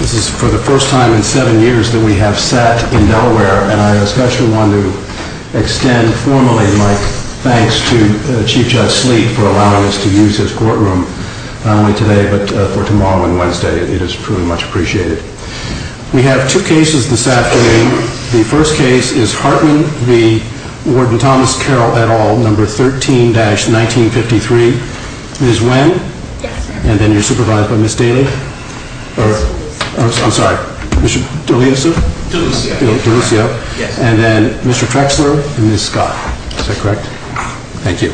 This is for the first time in seven years that we have sat in Delaware and I especially want to extend formally my thanks to Chief Judge Sleet for allowing us to use his courtroom not only today but for tomorrow and Wednesday. It is truly much appreciated. We have two cases this afternoon. The first case is Hartmann v. Warden Thomas Carroll et al., number 13-1953. Ms. Wen? Yes, sir. And then you're supervised by Ms. Daly? I'm sorry, Mr. D'Alessio? D'Alessio, yes. And then Mr. Trexler and Ms. Scott. Is that correct? Thank you.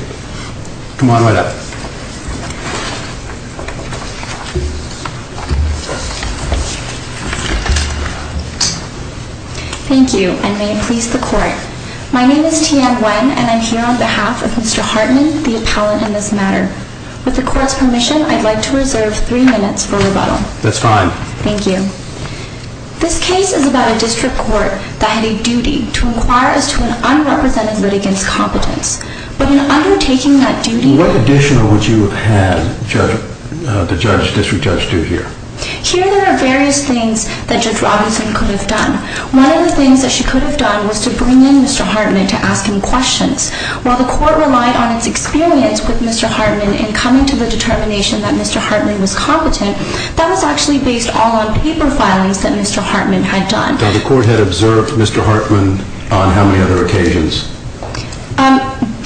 Come on right up. Thank you and may it please the court. My name is Tian Wen and I'm here on behalf of Mr. Hartmann, the appellant in this matter. With the court's permission, I'd like to reserve three minutes for rebuttal. That's fine. Thank you. This case is about a district court that had a duty to inquire as to an unrepresented litigant's competence. But in undertaking that duty... What additional would you have had the district judge do here? Here there are various things that Judge Robinson could have done. One of the things that she could have done was to bring in Mr. Hartmann to ask him questions. While the court relied on its experience with Mr. Hartmann in coming to the determination that Mr. Hartmann was competent, that was actually based all on paper filings that Mr. Hartmann had done. Now the court had observed Mr. Hartmann on how many other occasions?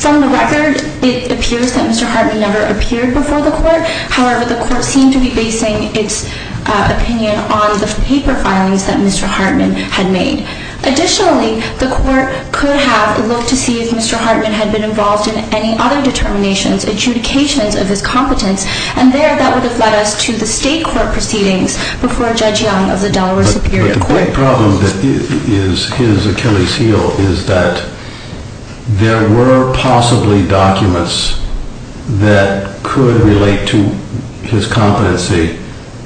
From the record, it appears that Mr. Hartmann never appeared before the court. However, the court seemed to be basing its opinion on the paper filings that Mr. Hartmann had made. Additionally, the court could have looked to see if Mr. Hartmann had been involved in any other determinations, adjudications of his competence, and there that would have led us to the state court proceedings before Judge Young of the Delaware Superior Court. The great problem that is Achilles' heel is that there were possibly documents that could relate to his competency,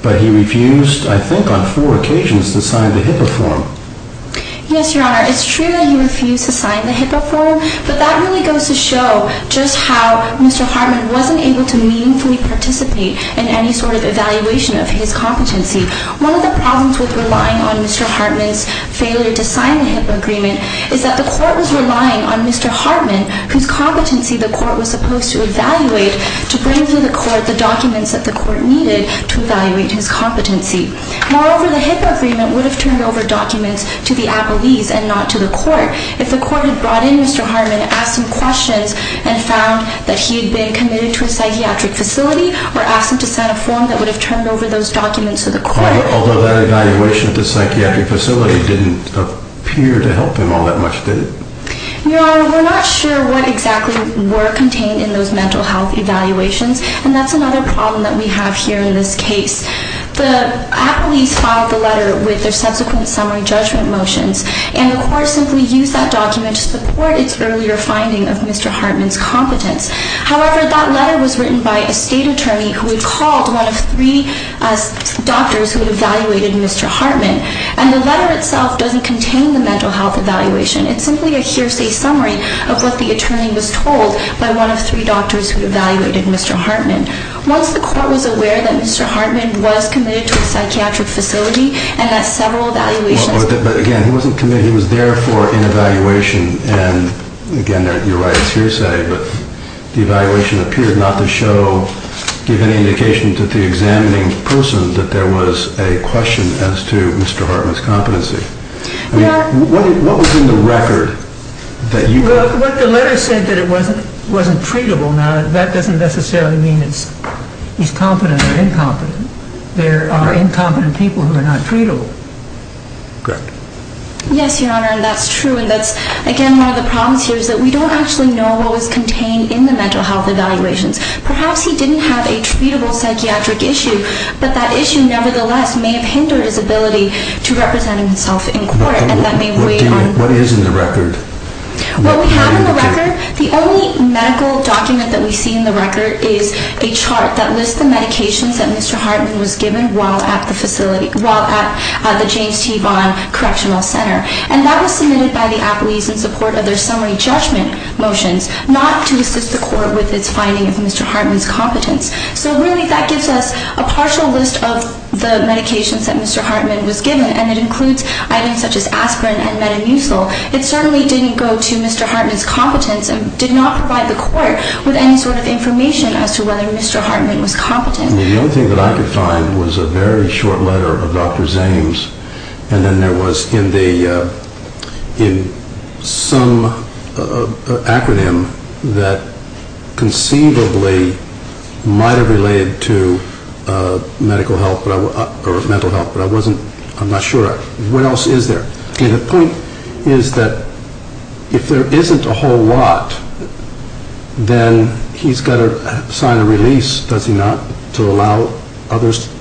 but he refused, I think on four occasions, to sign the HIPAA form. Yes, Your Honor. It's true that he refused to sign the HIPAA form, but that really goes to show just how Mr. Hartmann wasn't able to meaningfully participate in any sort of evaluation of his competency. One of the problems with relying on Mr. Hartmann's failure to sign the HIPAA agreement is that the court was relying on Mr. Hartmann, whose competency the court was supposed to evaluate, to bring to the court the documents that the court needed to evaluate his competency. Moreover, the HIPAA agreement would have turned over documents to the appellees and not to the court. If the court had brought in Mr. Hartmann, asked him questions, and found that he had been committed to a psychiatric facility or asked him to sign a form, that would have turned over those documents to the court. Although that evaluation of the psychiatric facility didn't appear to help him all that much, did it? Your Honor, we're not sure what exactly were contained in those mental health evaluations, and that's another problem that we have here in this case. The appellees filed the letter with their subsequent summary judgment motions, and the court simply used that document to support its earlier finding of Mr. Hartmann's competence. However, that letter was written by a state attorney who had called one of three doctors who had evaluated Mr. Hartmann, and the letter itself doesn't contain the mental health evaluation. It's simply a hearsay summary of what the attorney was told by one of three doctors who had evaluated Mr. Hartmann. Once the court was aware that Mr. Hartmann was committed to a psychiatric facility and had several evaluations... But again, he wasn't committed, he was there for an evaluation, and again, you're right, it's hearsay. But the evaluation appeared not to show, give any indication to the examining person that there was a question as to Mr. Hartmann's competency. I mean, what was in the record that you... Well, what the letter said that it wasn't treatable, now that doesn't necessarily mean he's competent or incompetent. There are incompetent people who are not treatable. Correct. Yes, Your Honor, and that's true, and that's, again, one of the problems here is that we don't actually know what was contained in the mental health evaluations. Perhaps he didn't have a treatable psychiatric issue, but that issue nevertheless may have hindered his ability to represent himself in court, and that may weigh on... What is in the record? What we have in the record, the only medical document that we see in the record is a chart that lists the medications that Mr. Hartmann was given while at the facility, while at the James T. Vaughan Correctional Center. And that was submitted by the apologies in support of their summary judgment motions, not to assist the court with its finding of Mr. Hartmann's competence. So really, that gives us a partial list of the medications that Mr. Hartmann was given, and it includes items such as aspirin and metamucil. It certainly didn't go to Mr. Hartmann's competence and did not provide the court with any sort of information as to whether Mr. Hartmann was competent. The only thing that I could find was a very short letter of Dr. Zame's, and then there was in some acronym that conceivably might have related to medical health or mental health, but I'm not sure. What else is there? The point is that if there isn't a whole lot, then he's got to sign a release, does he not, to allow others?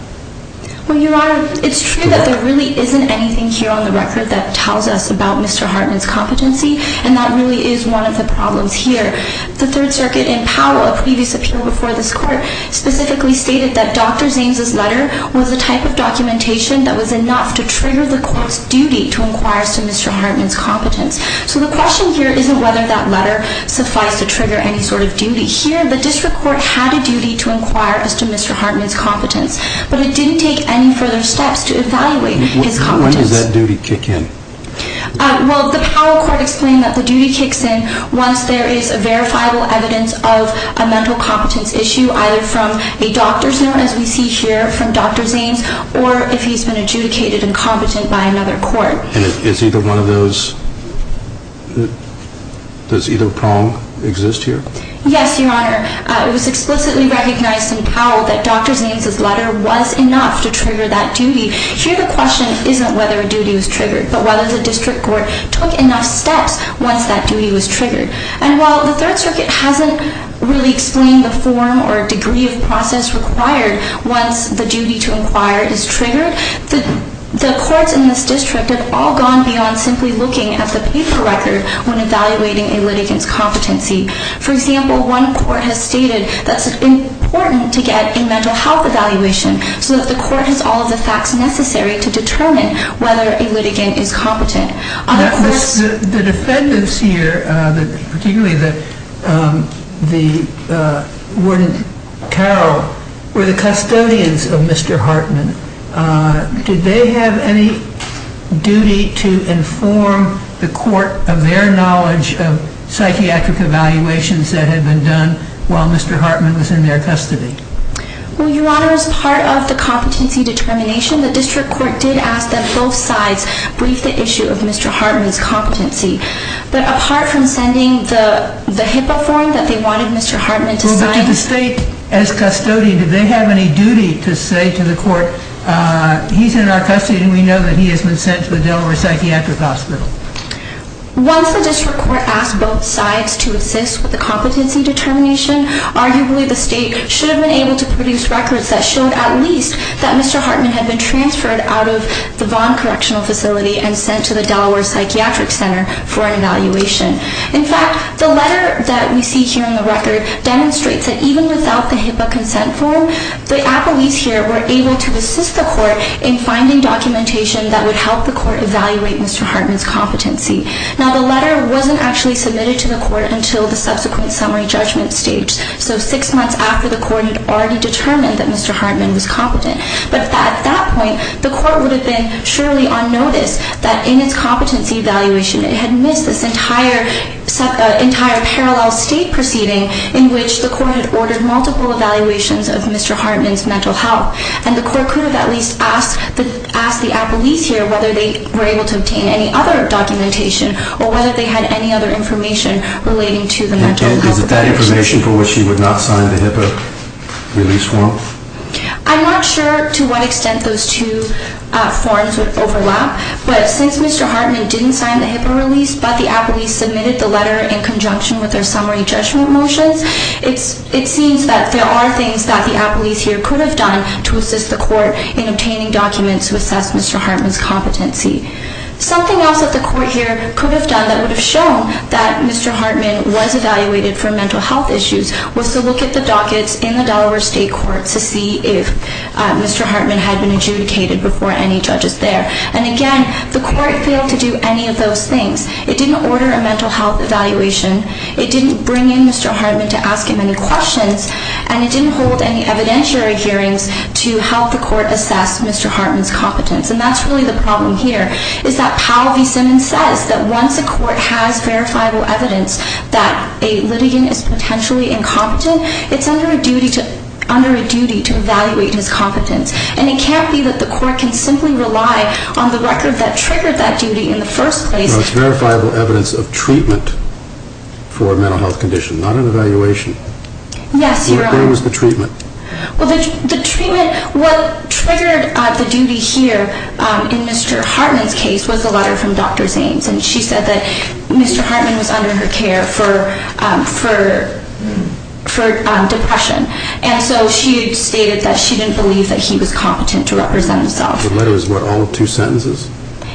Well, Your Honor, it's true that there really isn't anything here on the record that tells us about Mr. Hartmann's competency, and that really is one of the problems here. The Third Circuit in Powell, a previous appeal before this court, specifically stated that Dr. Zame's letter was a type of documentation that was enough to trigger the court's duty to inquire as to Mr. Hartmann's competence. So the question here isn't whether that letter suffice to trigger any sort of duty. Here, the district court had a duty to inquire as to Mr. Hartmann's competence, but it didn't take any further steps to evaluate his competence. When did that duty kick in? Well, the Powell court explained that the duty kicks in once there is verifiable evidence of a mental competence issue, either from a doctor, as we see here, from Dr. Zame's, or if he's been adjudicated incompetent by another court. And is either one of those, does either prong exist here? Yes, Your Honor. It was explicitly recognized in Powell that Dr. Zame's letter was enough to trigger that duty. Here, the question isn't whether a duty was triggered, but whether the district court took enough steps once that duty was triggered. And while the Third Circuit hasn't really explained the form or degree of process required once the duty to inquire is triggered, the courts in this district have all gone beyond simply looking at the paper record when evaluating a litigant's competency. For example, one court has stated that it's important to get a mental health evaluation so that the court has all of the facts necessary to determine whether a litigant is competent. The defendants here, particularly the Warden Carroll, were the custodians of Mr. Hartman. Did they have any duty to inform the court of their knowledge of psychiatric evaluations that had been done while Mr. Hartman was in their custody? Well, Your Honor, as part of the competency determination, the district court did ask that both sides brief the issue of Mr. Hartman's competency. But apart from sending the HIPAA form that they wanted Mr. Hartman to sign... Well, but did the state, as custodian, did they have any duty to say to the court, he's in our custody and we know that he has been sent to the Delaware Psychiatric Hospital? Once the district court asked both sides to assist with the competency determination, arguably the state should have been able to produce records that showed at least that Mr. Hartman had been transferred out of the Vaughn Correctional Facility and sent to the Delaware Psychiatric Center for an evaluation. In fact, the letter that we see here in the record demonstrates that even without the HIPAA consent form, the appellees here were able to assist the court in finding documentation that would help the court evaluate Mr. Hartman's competency. Now, the letter wasn't actually submitted to the court until the subsequent summary judgment stage, so six months after the court had already determined that Mr. Hartman was competent. But at that point, the court would have been surely on notice that in its competency evaluation it had missed this entire parallel state proceeding in which the court had ordered multiple evaluations of Mr. Hartman's mental health. And the court could have at least asked the appellees here whether they were able to obtain any other documentation or whether they had any other information relating to the mental health. Is it that information for which you would not sign the HIPAA release form? I'm not sure to what extent those two forms would overlap, but since Mr. Hartman didn't sign the HIPAA release, but the appellees submitted the letter in conjunction with their summary judgment motions, it seems that there are things that the appellees here could have done to assist the court in obtaining documents to assess Mr. Hartman's competency. Something else that the court here could have done that would have shown that Mr. Hartman was evaluated for mental health issues was to look at the dockets in the Delaware State Courts to see if Mr. Hartman had been adjudicated before any judges there. And again, the court failed to do any of those things. It didn't order a mental health evaluation. It didn't bring in Mr. Hartman to ask him any questions. And it didn't hold any evidentiary hearings to help the court assess Mr. Hartman's competence. And that's really the problem here, is that Powell v. Simmons says that once a court has verifiable evidence that a litigant is potentially incompetent, it's under a duty to evaluate his competence. And it can't be that the court can simply rely on the record that triggered that duty in the first place. Well, it's verifiable evidence of treatment for a mental health condition, not an evaluation. Yes, Your Honor. Where was the treatment? Well, the treatment, what triggered the duty here in Mr. Hartman's case was a letter from Dr. Zanes. And she said that Mr. Hartman was under her care for depression. And so she stated that she didn't believe that he was competent to represent himself. The letter is what, all two sentences?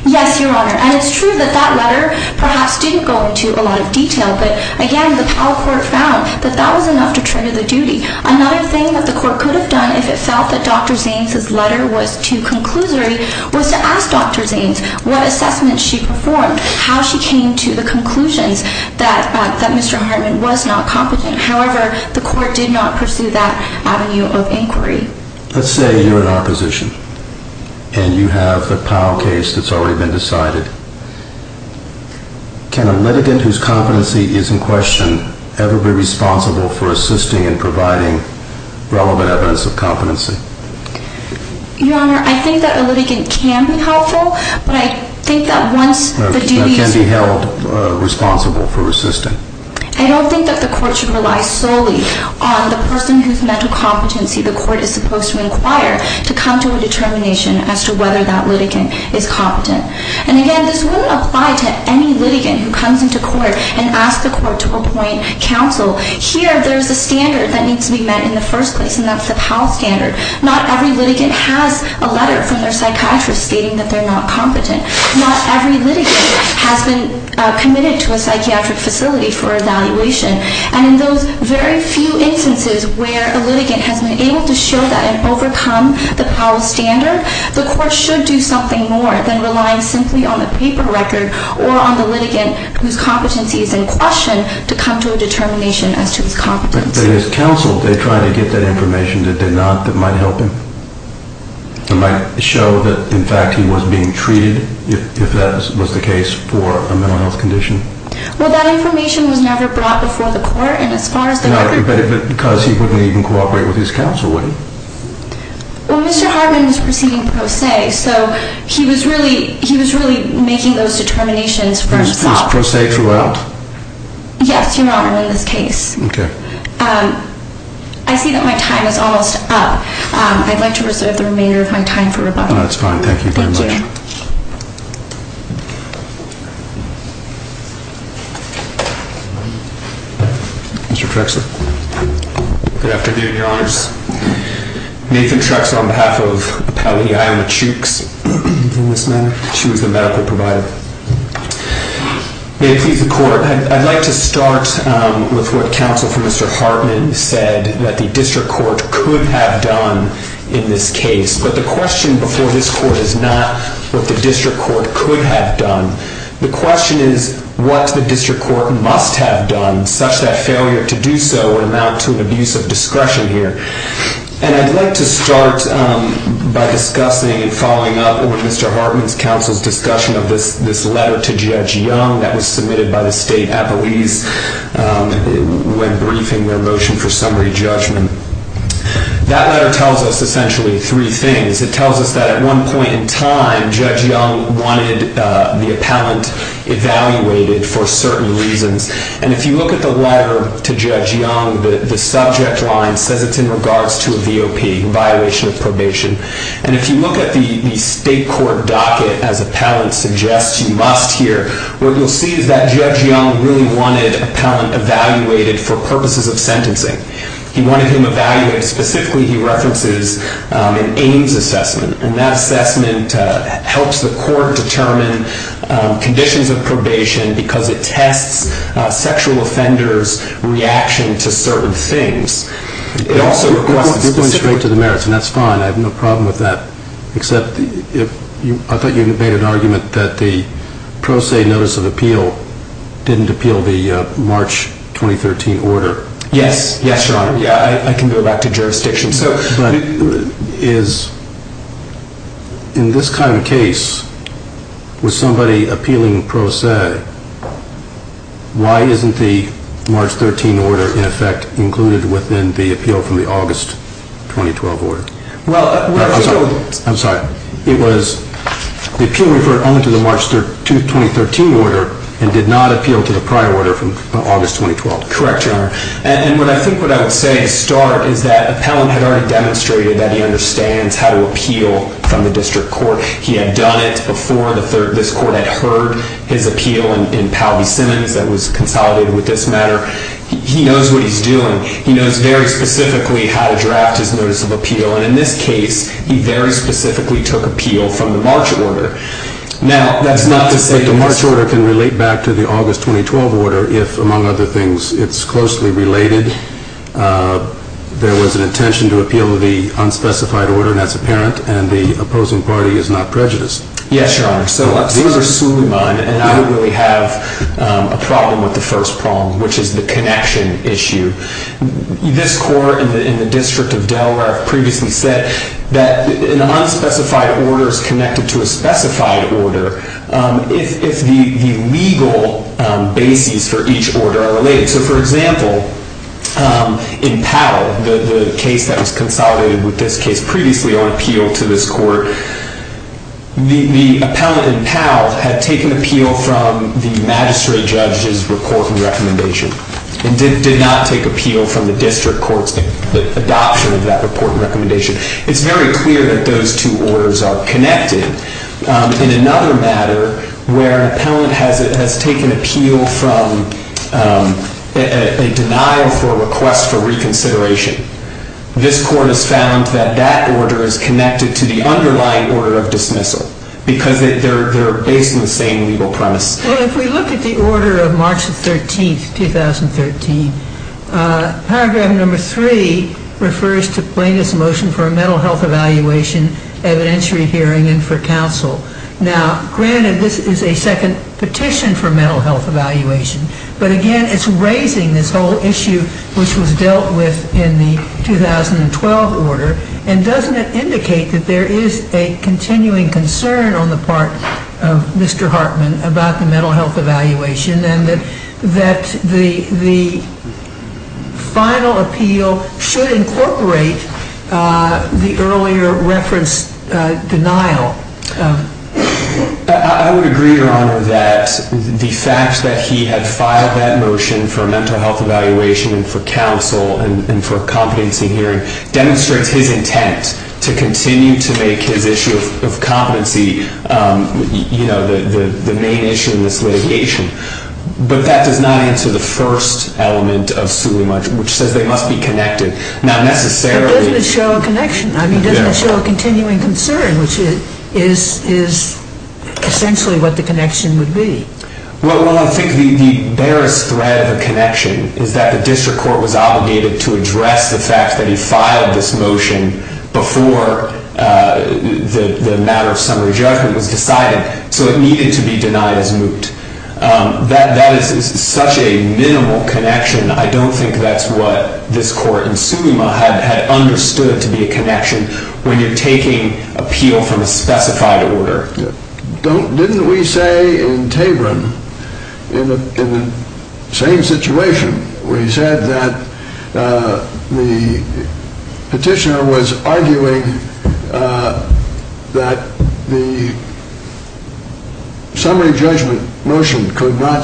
Yes, Your Honor. And it's true that that letter perhaps didn't go into a lot of detail. But again, the Powell court found that that was enough to trigger the duty. Another thing that the court could have done if it felt that Dr. Zanes' letter was too conclusory was to ask Dr. Zanes what assessments she performed, how she came to the conclusions that Mr. Hartman was not competent. However, the court did not pursue that avenue of inquiry. Let's say you're in our position. And you have a Powell case that's already been decided. Can a litigant whose competency is in question ever be responsible for assisting and providing relevant evidence of competency? Your Honor, I think that a litigant can be helpful. But I think that once the duties... That can be held responsible for assisting. I don't think that the court should rely solely on the person whose mental competency the court is supposed to inquire to come to a determination as to whether that litigant is competent. And again, this wouldn't apply to any litigant who comes into court and asks the court to appoint counsel. Here, there's a standard that needs to be met in the first place, and that's the Powell standard. Not every litigant has a letter from their psychiatrist stating that they're not competent. Not every litigant has been committed to a psychiatric facility for evaluation. And in those very few instances where a litigant has been able to show that and overcome the Powell standard, the court should do something more than relying simply on the paper record or on the litigant whose competency is in question to come to a determination as to his competence. But is counsel trying to get that information that they're not that might help him? It might show that, in fact, he was being treated if that was the case for a mental health condition? Well, that information was never brought before the court, and as far as the record... But because he wouldn't even cooperate with his counsel, would he? Well, Mr. Hartman is proceeding pro se, so he was really making those determinations first thought. He was pro se throughout? Yes, Your Honor, in this case. Okay. I see that my time is almost up. I'd like to reserve the remainder of my time for rebuttal. That's fine. Thank you very much. Thank you. Mr. Trexler. Good afternoon, Your Honors. Nathan Trexler on behalf of Appellee Iyamah Chooks in this matter. She was the medical provider. May it please the court, I'd like to start with what counsel for Mr. Hartman said that the district court could have done in this case. But the question before this court is not what the district court could have done. The question is what the district court must have done, such that failure to do so would amount to an abuse of discretion here. And I'd like to start by discussing and following up with Mr. Hartman's counsel's discussion of this letter to Judge Young that was submitted by the state appellees when briefing their motion for summary judgment. That letter tells us essentially three things. It tells us that at one point in time, Judge Young wanted the appellant evaluated for certain reasons. And if you look at the letter to Judge Young, the subject line says it's in regards to a VOP, a violation of probation. And if you look at the state court docket, as appellant suggests, you must hear, what you'll see is that Judge Young really wanted appellant evaluated for purposes of sentencing. He wanted him evaluated. Specifically, he references an AIMS assessment. And that assessment helps the court determine conditions of probation because it tests sexual offenders' reaction to certain things. You're going straight to the merits, and that's fine. I have no problem with that. Except I thought you made an argument that the pro se notice of appeal didn't appeal the March 2013 order. Yes, Your Honor. I can go back to jurisdiction. In this kind of case, with somebody appealing pro se, why isn't the March 13 order, in effect, included within the appeal from the August 2012 order? I'm sorry. The appeal referred only to the March 2013 order and did not appeal to the prior order from August 2012. Correct, Your Honor. And I think what I would say to start is that appellant had already demonstrated that he understands how to appeal from the district court. He had done it before this court had heard his appeal in Palby-Simmons that was consolidated with this matter. He knows what he's doing. He knows very specifically how to draft his notice of appeal. And in this case, he very specifically took appeal from the March order. But the March order can relate back to the August 2012 order if, among other things, it's closely related. There was an intention to appeal the unspecified order, and that's apparent. And the opposing party is not prejudiced. Yes, Your Honor. So, I'm sorry. These are slew of mine, and I don't really have a problem with the first problem, which is the connection issue. This court in the District of Delaware previously said that an unspecified order is connected to a specified order if the legal bases for each order are related. So, for example, in Powell, the case that was consolidated with this case previously on appeal to this court, the appellant in Powell had taken appeal from the magistrate judge's report and recommendation and did not take appeal from the district court's adoption of that report and recommendation. It's very clear that those two orders are connected. In another matter where an appellant has taken appeal from a denial for request for reconsideration, this court has found that that order is connected to the underlying order of dismissal because they're based on the same legal premise. Well, if we look at the order of March 13, 2013, paragraph number 3 refers to plaintiff's motion for a mental health evaluation, evidentiary hearing, and for counsel. Now, granted, this is a second petition for mental health evaluation, but, again, it's raising this whole issue which was dealt with in the 2012 order, and doesn't it indicate that there is a continuing concern on the part of Mr. Hartman about the mental health evaluation and that the final appeal should incorporate the earlier reference denial? I would agree, Your Honor, that the fact that he had filed that motion for a mental health evaluation and for counsel and for a competency hearing demonstrates his intent to continue to make his issue of competency the main issue in this litigation. But that does not answer the first element of Suleyman, which says they must be connected. But doesn't it show a connection? I mean, doesn't it show a continuing concern, which is essentially what the connection would be? Well, I think the barest thread of the connection is that the district court was obligated to address the fact that he filed this motion before the matter of summary judgment was decided, so it needed to be denied as moot. That is such a minimal connection. I don't think that's what this court in Suleyman had understood to be a connection when you're taking appeal from a specified order. Didn't we say in Tabron, in the same situation, we said that the petitioner was arguing that the summary judgment motion could not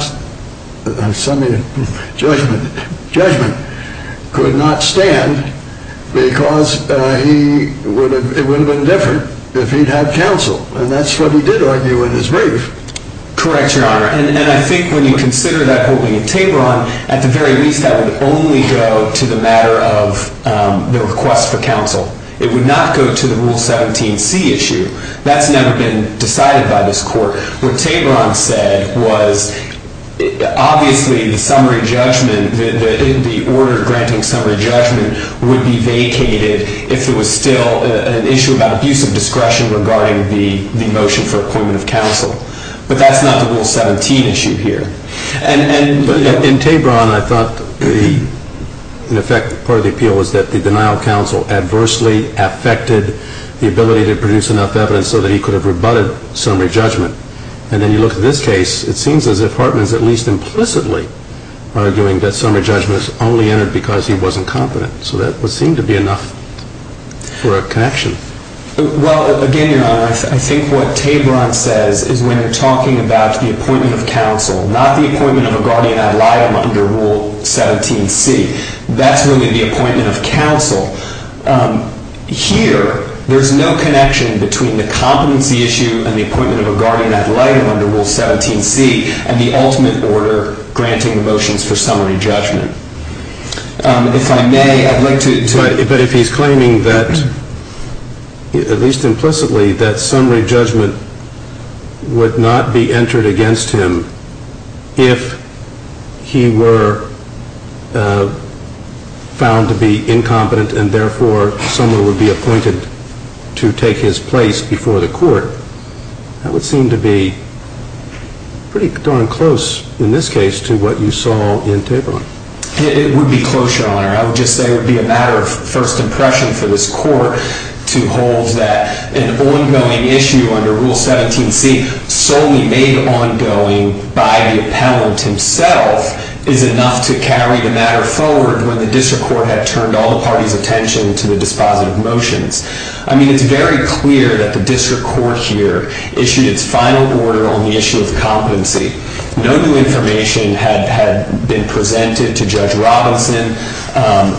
stand because it would have been different if he'd had counsel, and that's what he did argue in his brief. Correct, Your Honor, and I think when you consider that holding in Tabron, at the very least that would only go to the matter of the request for counsel. It would not go to the Rule 17c issue. That's never been decided by this court. What Tabron said was, obviously, the order granting summary judgment would be vacated if it was still an issue about abusive discretion regarding the motion for appointment of counsel, but that's not the Rule 17 issue here. In Tabron, I thought, in effect, part of the appeal was that the denial of counsel adversely affected the ability to produce enough evidence so that he could have rebutted summary judgment, and then you look at this case, it seems as if Hartman is at least implicitly arguing that summary judgment is only entered because he wasn't confident, so that would seem to be enough for a connection. Well, again, Your Honor, I think what Tabron says is when you're talking about the appointment of counsel, not the appointment of a guardian ad litem under Rule 17c, that's really the appointment of counsel. Here, there's no connection between the competency issue and the appointment of a guardian ad litem under Rule 17c and the ultimate order granting the motions for summary judgment. If I may, I'd like to... But if he's claiming that, at least implicitly, that summary judgment would not be entered against him if he were found to be incompetent and, therefore, someone would be appointed to take his place before the court, that would seem to be pretty darn close, in this case, to what you saw in Tabron. It would be close, Your Honor. I would just say it would be a matter of first impression for this court to hold that an ongoing issue under Rule 17c, solely made ongoing by the appellant himself, is enough to carry the matter forward when the district court had turned all the party's attention to the dispositive motions. I mean, it's very clear that the district court here issued its final order on the issue of competency. No new information had been presented to Judge Robinson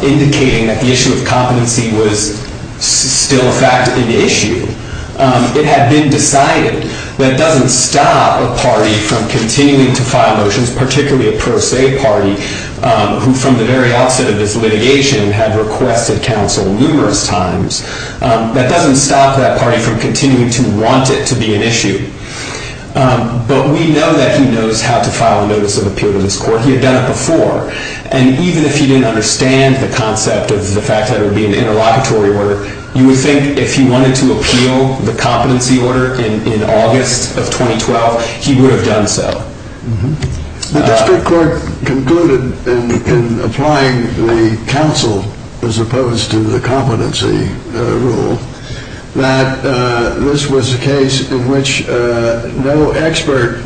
indicating that the issue of competency was still, in fact, an issue. It had been decided. That doesn't stop a party from continuing to file motions, particularly a pro se party, who, from the very outset of this litigation, had requested counsel numerous times. That doesn't stop that party from continuing to want it to be an issue. But we know that he knows how to file a notice of appeal to this court. He had done it before. And even if he didn't understand the concept of the fact that it would be an interlocutory order, you would think if he wanted to appeal the competency order in August of 2012, he would have done so. The district court concluded in applying the counsel as opposed to the competency rule that this was a case in which no expert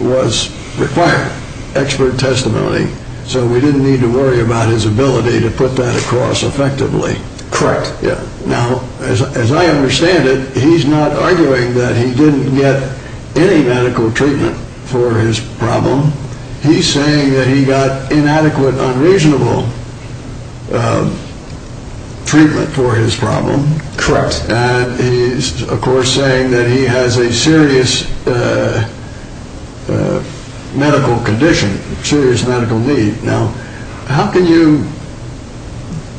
was required, expert testimony. So we didn't need to worry about his ability to put that across effectively. Correct. Now, as I understand it, he's not arguing that he didn't get any medical treatment for his problem. He's saying that he got inadequate, unreasonable treatment for his problem. Correct. And he's, of course, saying that he has a serious medical condition, serious medical need. Now, how can you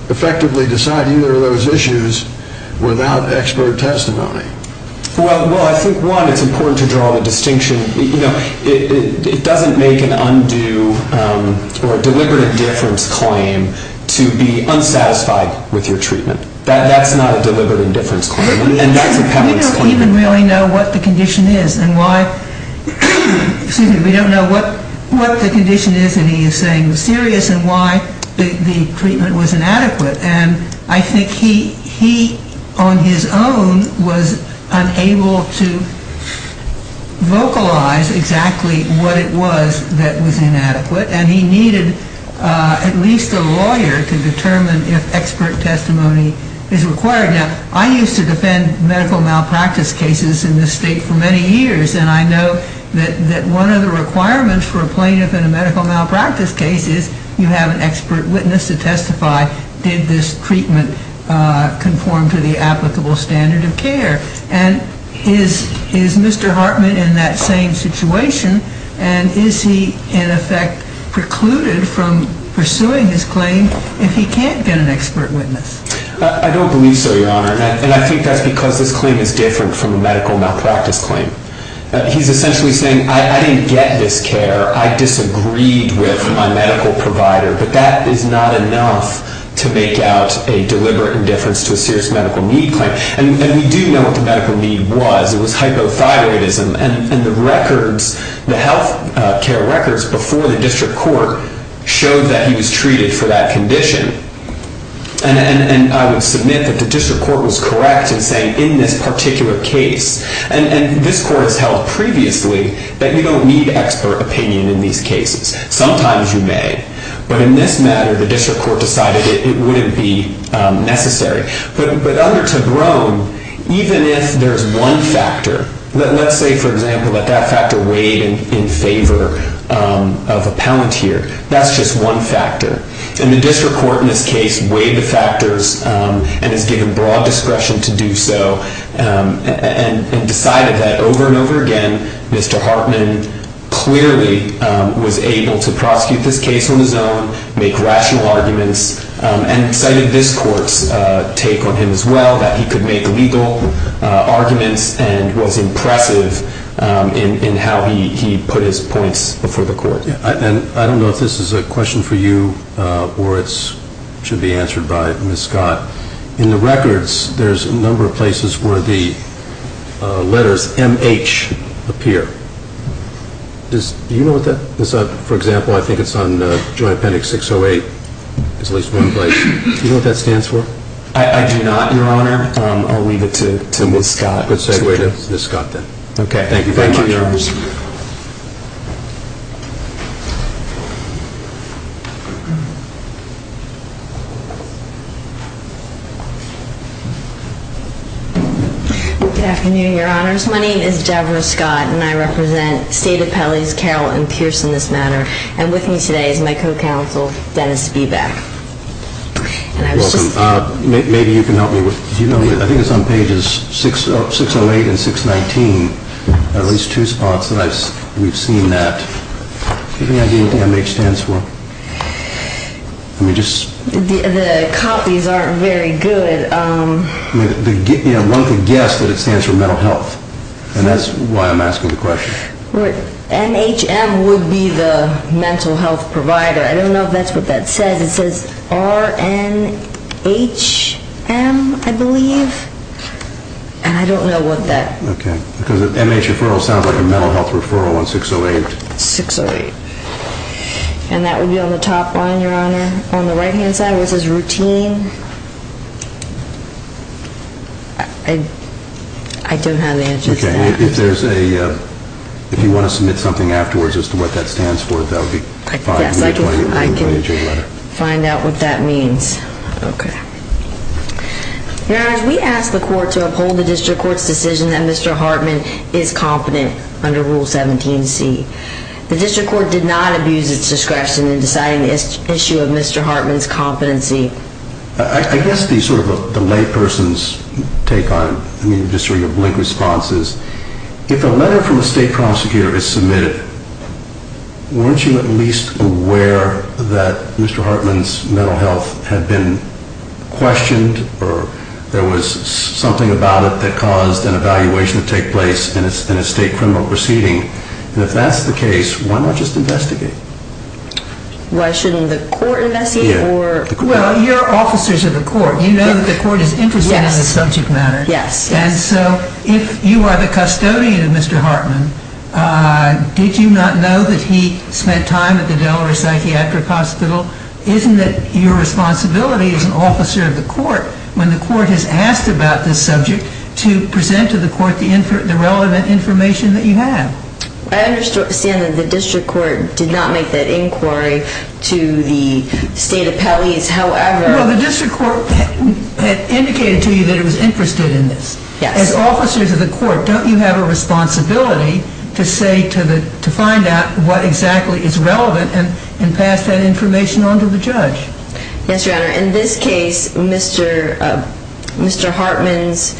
effectively decide either of those issues without expert testimony? Well, I think, one, it's important to draw the distinction. You know, it doesn't make an undue or a deliberate indifference claim to be unsatisfied with your treatment. That's not a deliberate indifference claim. And that's a competence claim. We don't even really know what the condition is and why. Excuse me. We don't know what the condition is that he is saying was serious and why the treatment was inadequate. And I think he, on his own, was unable to vocalize exactly what it was that was inadequate. And he needed at least a lawyer to determine if expert testimony is required. Now, I used to defend medical malpractice cases in this state for many years. And I know that one of the requirements for a plaintiff in a medical malpractice case is you have an expert witness to testify. Did this treatment conform to the applicable standard of care? And is Mr. Hartman in that same situation? And is he, in effect, precluded from pursuing his claim if he can't get an expert witness? I don't believe so, Your Honor. And I think that's because this claim is different from a medical malpractice claim. He's essentially saying, I didn't get this care. I disagreed with my medical provider. But that is not enough to make out a deliberate indifference to a serious medical need claim. And we do know what the medical need was. It was hypothyroidism. And the health care records before the district court showed that he was treated for that condition. And I would submit that the district court was correct in saying, in this particular case, and this court has held previously, that you don't need expert opinion in these cases. Sometimes you may. But in this matter, the district court decided it wouldn't be necessary. But under Tobrome, even if there's one factor, let's say, for example, that that factor weighed in favor of a palantir, that's just one factor. And the district court in this case weighed the factors and has given broad discretion to do so and decided that over and over again, Mr. Hartman clearly was able to prosecute this case on his own, make rational arguments, and cited this court's take on him as well, that he could make legal arguments and was impressive in how he put his points before the court. And I don't know if this is a question for you or it should be answered by Ms. Scott. In the records, there's a number of places where the letters M-H appear. Do you know what that is? For example, I think it's on Joint Appendix 608. There's at least one place. Do you know what that stands for? I do not, Your Honor. I'll leave it to Ms. Scott. Let's segue to Ms. Scott then. Okay. Thank you very much. Thank you, Your Honor. Good afternoon, Your Honors. My name is Debra Scott, and I represent State Appellees Carroll and Pierce in this matter. And with me today is my co-counsel, Dennis Beebeck. You're welcome. Maybe you can help me with it. I think it's on pages 608 and 619, at least two spots that we've seen that. Do you have any idea what M-H stands for? The copies aren't very good. One could guess that it stands for mental health, and that's why I'm asking the question. M-H-M would be the mental health provider. I don't know if that's what that says. It says R-N-H-M, I believe, and I don't know what that is. Okay, because an M-H referral sounds like a mental health referral on 608. 608. And that would be on the top line, Your Honor. On the right-hand side, it says routine. I don't have the answer to that. If you want to submit something afterwards as to what that stands for, that would be fine. Yes, I can find out what that means. Okay. Your Honor, we ask the court to uphold the district court's decision that Mr. Hartman is competent under Rule 17C. The district court did not abuse its discretion in deciding the issue of Mr. Hartman's competency. I guess the layperson's take on it, just through your blink responses, if a letter from a state prosecutor is submitted, weren't you at least aware that Mr. Hartman's mental health had been questioned or there was something about it that caused an evaluation to take place in a state criminal proceeding? And if that's the case, why not just investigate? Why shouldn't the court investigate? Well, you're officers of the court. You know that the court is interested in the subject matter. Yes. And so if you are the custodian of Mr. Hartman, did you not know that he spent time at the Delaware Psychiatric Hospital? Isn't it your responsibility as an officer of the court, when the court has asked about this subject, to present to the court the relevant information that you have? I understand that the district court did not make that inquiry to the state appellees. However... Well, the district court indicated to you that it was interested in this. Yes. As officers of the court, don't you have a responsibility to find out what exactly is relevant and pass that information on to the judge? Yes, Your Honor. In this case, Mr. Hartman's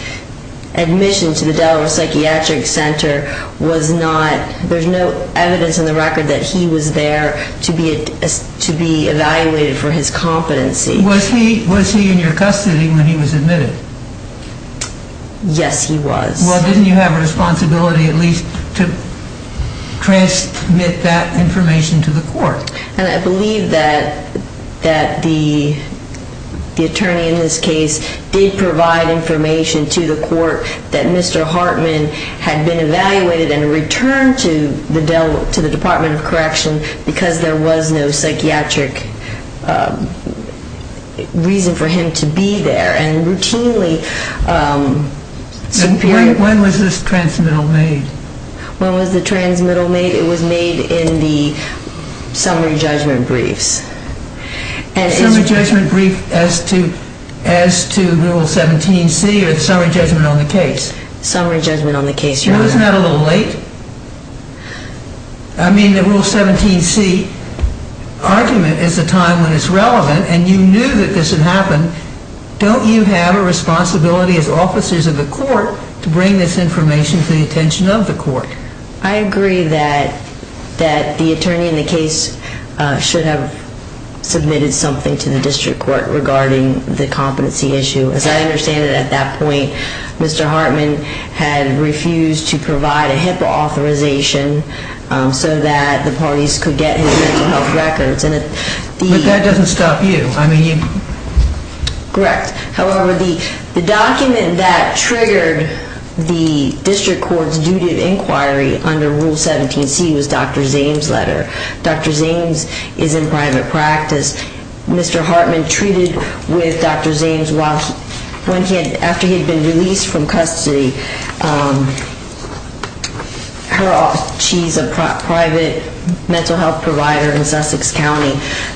admission to the Delaware Psychiatric Center was not... There's no evidence in the record that he was there to be evaluated for his competency. Was he in your custody when he was admitted? Yes, he was. Well, didn't you have a responsibility at least to transmit that information to the court? And I believe that the attorney in this case did provide information to the court that Mr. Hartman had been evaluated and returned to the Department of Correction because there was no psychiatric reason for him to be there and routinely... When was this transmittal made? When was the transmittal made? It was made in the summary judgment briefs. Summary judgment brief as to Rule 17c or the summary judgment on the case? Summary judgment on the case, Your Honor. Well, isn't that a little late? I mean, the Rule 17c argument is a time when it's relevant and you knew that this had happened. Don't you have a responsibility as officers of the court to bring this information to the attention of the court? I agree that the attorney in the case should have submitted something to the district court regarding the competency issue. As I understand it, at that point Mr. Hartman had refused to provide a HIPAA authorization so that the parties could get his mental health records. But that doesn't stop you. Correct. However, the document that triggered the district court's duty of inquiry under Rule 17c was Dr. Zames' letter. Dr. Zames is in private practice. Mr. Hartman treated with Dr. Zames after he had been released from custody. She's a private mental health provider in Sussex County.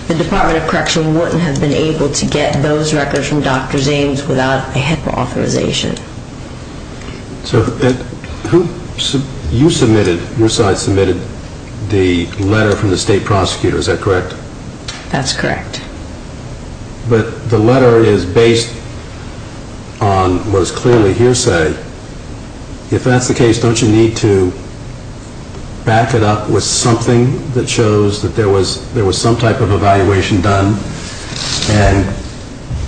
The Department of Correction wouldn't have been able to get those records from Dr. Zames without a HIPAA authorization. So you submitted, your side submitted the letter from the state prosecutor, is that correct? That's correct. But the letter is based on what is clearly hearsay. If that's the case, don't you need to back it up with something that shows that there was some type of evaluation done and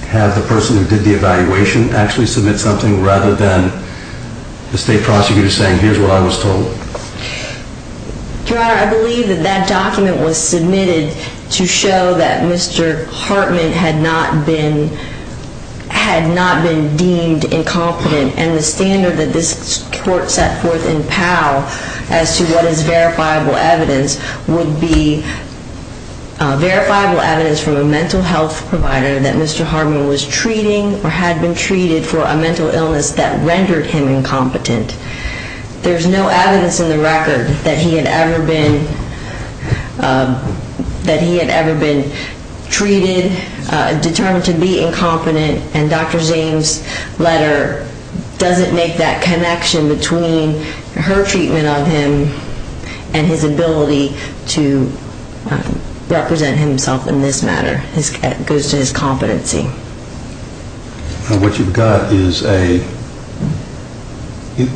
have the person who did the evaluation actually submit something rather than the state prosecutor saying here's what I was told? Your Honor, I believe that that document was submitted to show that Mr. Hartman had not been deemed incompetent. And the standard that this court set forth in Powell as to what is verifiable evidence would be verifiable evidence from a mental health provider that Mr. Hartman was treating or had been treated for a mental illness that rendered him incompetent. There's no evidence in the record that he had ever been treated, determined to be incompetent, and Dr. Zames' letter doesn't make that connection between her treatment of him and his ability to represent himself in this matter. It goes to his competency. What you've got is a,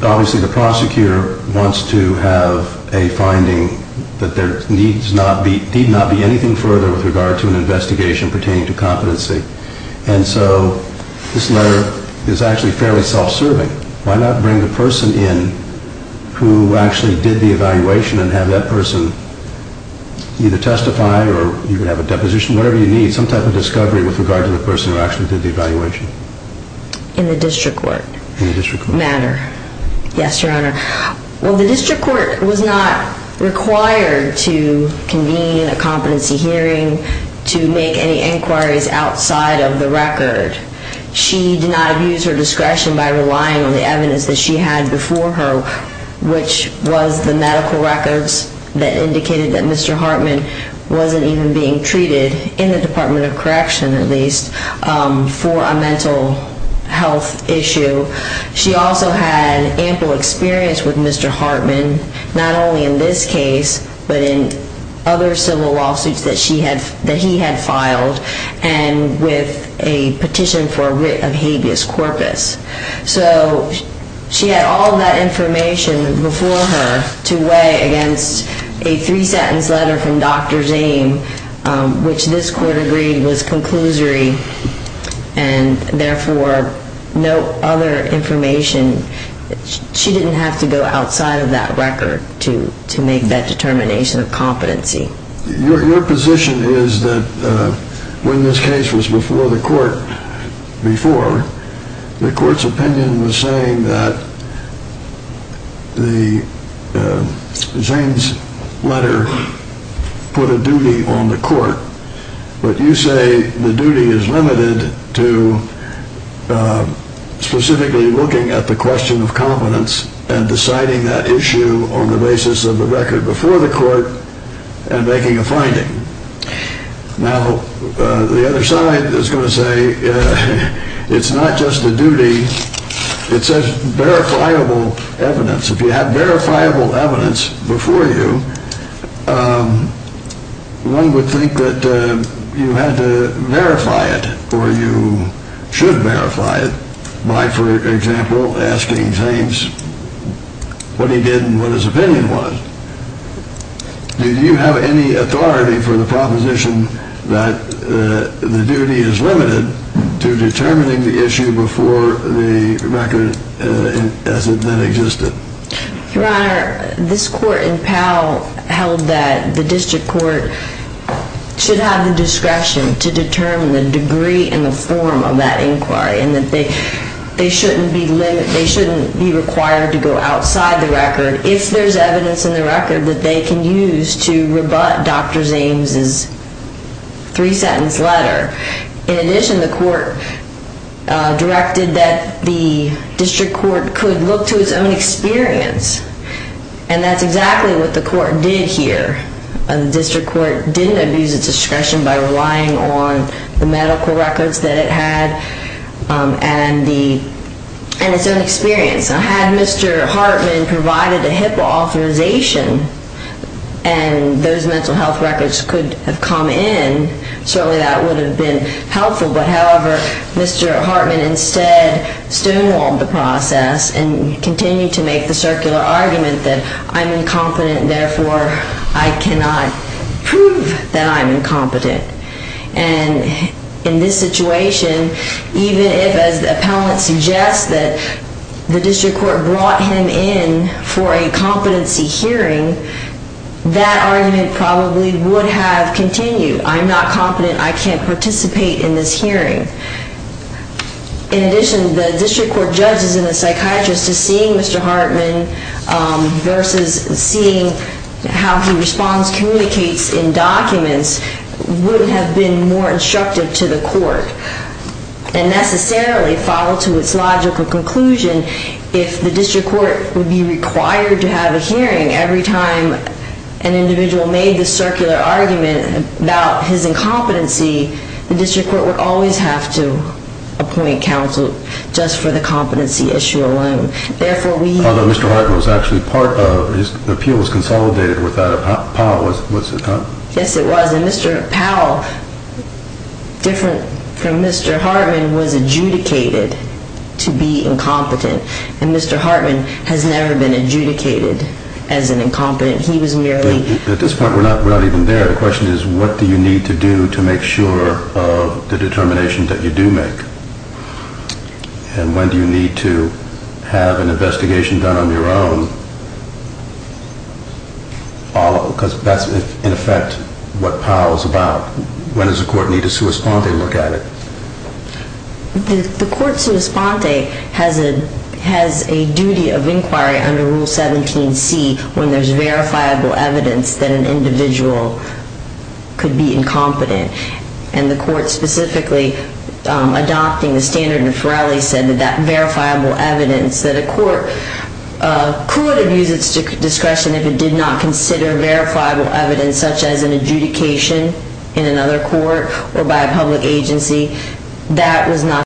obviously the prosecutor wants to have a finding that there need not be anything further with regard to an investigation pertaining to competency. And so this letter is actually fairly self-serving. Why not bring the person in who actually did the evaluation and have that person either testify or you could have a deposition, whatever you need, some type of discovery with regard to the person who actually did the evaluation? In the district court matter? In the district court. Yes, Your Honor. Well, the district court was not required to convene a competency hearing to make any inquiries outside of the record. She did not use her discretion by relying on the evidence that she had before her, which was the medical records that indicated that Mr. Hartman wasn't even being treated, in the Department of Correction at least, for a mental health issue. She also had ample experience with Mr. Hartman, not only in this case, but in other civil lawsuits that he had filed and with a petition for writ of habeas corpus. So she had all of that information before her to weigh against a three-sentence letter from Dr. Zame, which this court agreed was conclusory and therefore no other information. She didn't have to go outside of that record to make that determination of competency. Your position is that when this case was before the court, the court's opinion was saying that Zame's letter put a duty on the court, but you say the duty is limited to specifically looking at the question of competence and deciding that issue on the basis of the record before the court and making a finding. Now, the other side is going to say it's not just a duty, it's a verifiable evidence. If you have verifiable evidence before you, one would think that you had to verify it or you should verify it by, for example, asking Zame what he did and what his opinion was. Do you have any authority for the proposition that the duty is limited to determining the issue before the record as it then existed? Your Honor, this court in Powell held that the district court should have the discretion to determine the degree and the form of that inquiry and that they shouldn't be required to go outside the record if there's evidence in the record that they can use to rebut Dr. Zame's three-sentence letter. In addition, the court directed that the district court could look to its own experience and that's exactly what the court did here. The district court didn't abuse its discretion by relying on the medical records that it had and its own experience. Had Mr. Hartman provided a HIPAA authorization and those mental health records could have come in, certainly that would have been helpful, but however, Mr. Hartman instead stonewalled the process and continued to make the circular argument that I'm incompetent and therefore I cannot prove that I'm incompetent. And in this situation, even if, as the appellant suggests, that the district court brought him in for a competency hearing, that argument probably would have continued. I'm not competent. I can't participate in this hearing. In addition, the district court judges and the psychiatrist to seeing Mr. Hartman versus seeing how he responds, communicates in documents would have been more instructive to the court and necessarily follow to its logical conclusion if the district court would be required to have a hearing Every time an individual made the circular argument about his incompetency, the district court would always have to appoint counsel just for the competency issue alone. Although Mr. Hartman was actually part of, his appeal was consolidated with that of Powell. Yes, it was. And Mr. Powell, different from Mr. Hartman, was adjudicated to be incompetent and Mr. Hartman has never been adjudicated as an incompetent. He was merely At this point, we're not even there. The question is what do you need to do to make sure of the determination that you do make and when do you need to have an investigation done on your own because that's, in effect, what Powell's about. When does the court need a sua sponte look at it? The court sua sponte has a duty of inquiry under Rule 17c when there's verifiable evidence that an individual could be incompetent and the court specifically adopting the standard of Ferelli said that that verifiable evidence that a court could have used its discretion if it did not consider verifiable evidence such as an adjudication in another court or by a public agency, that was not the case.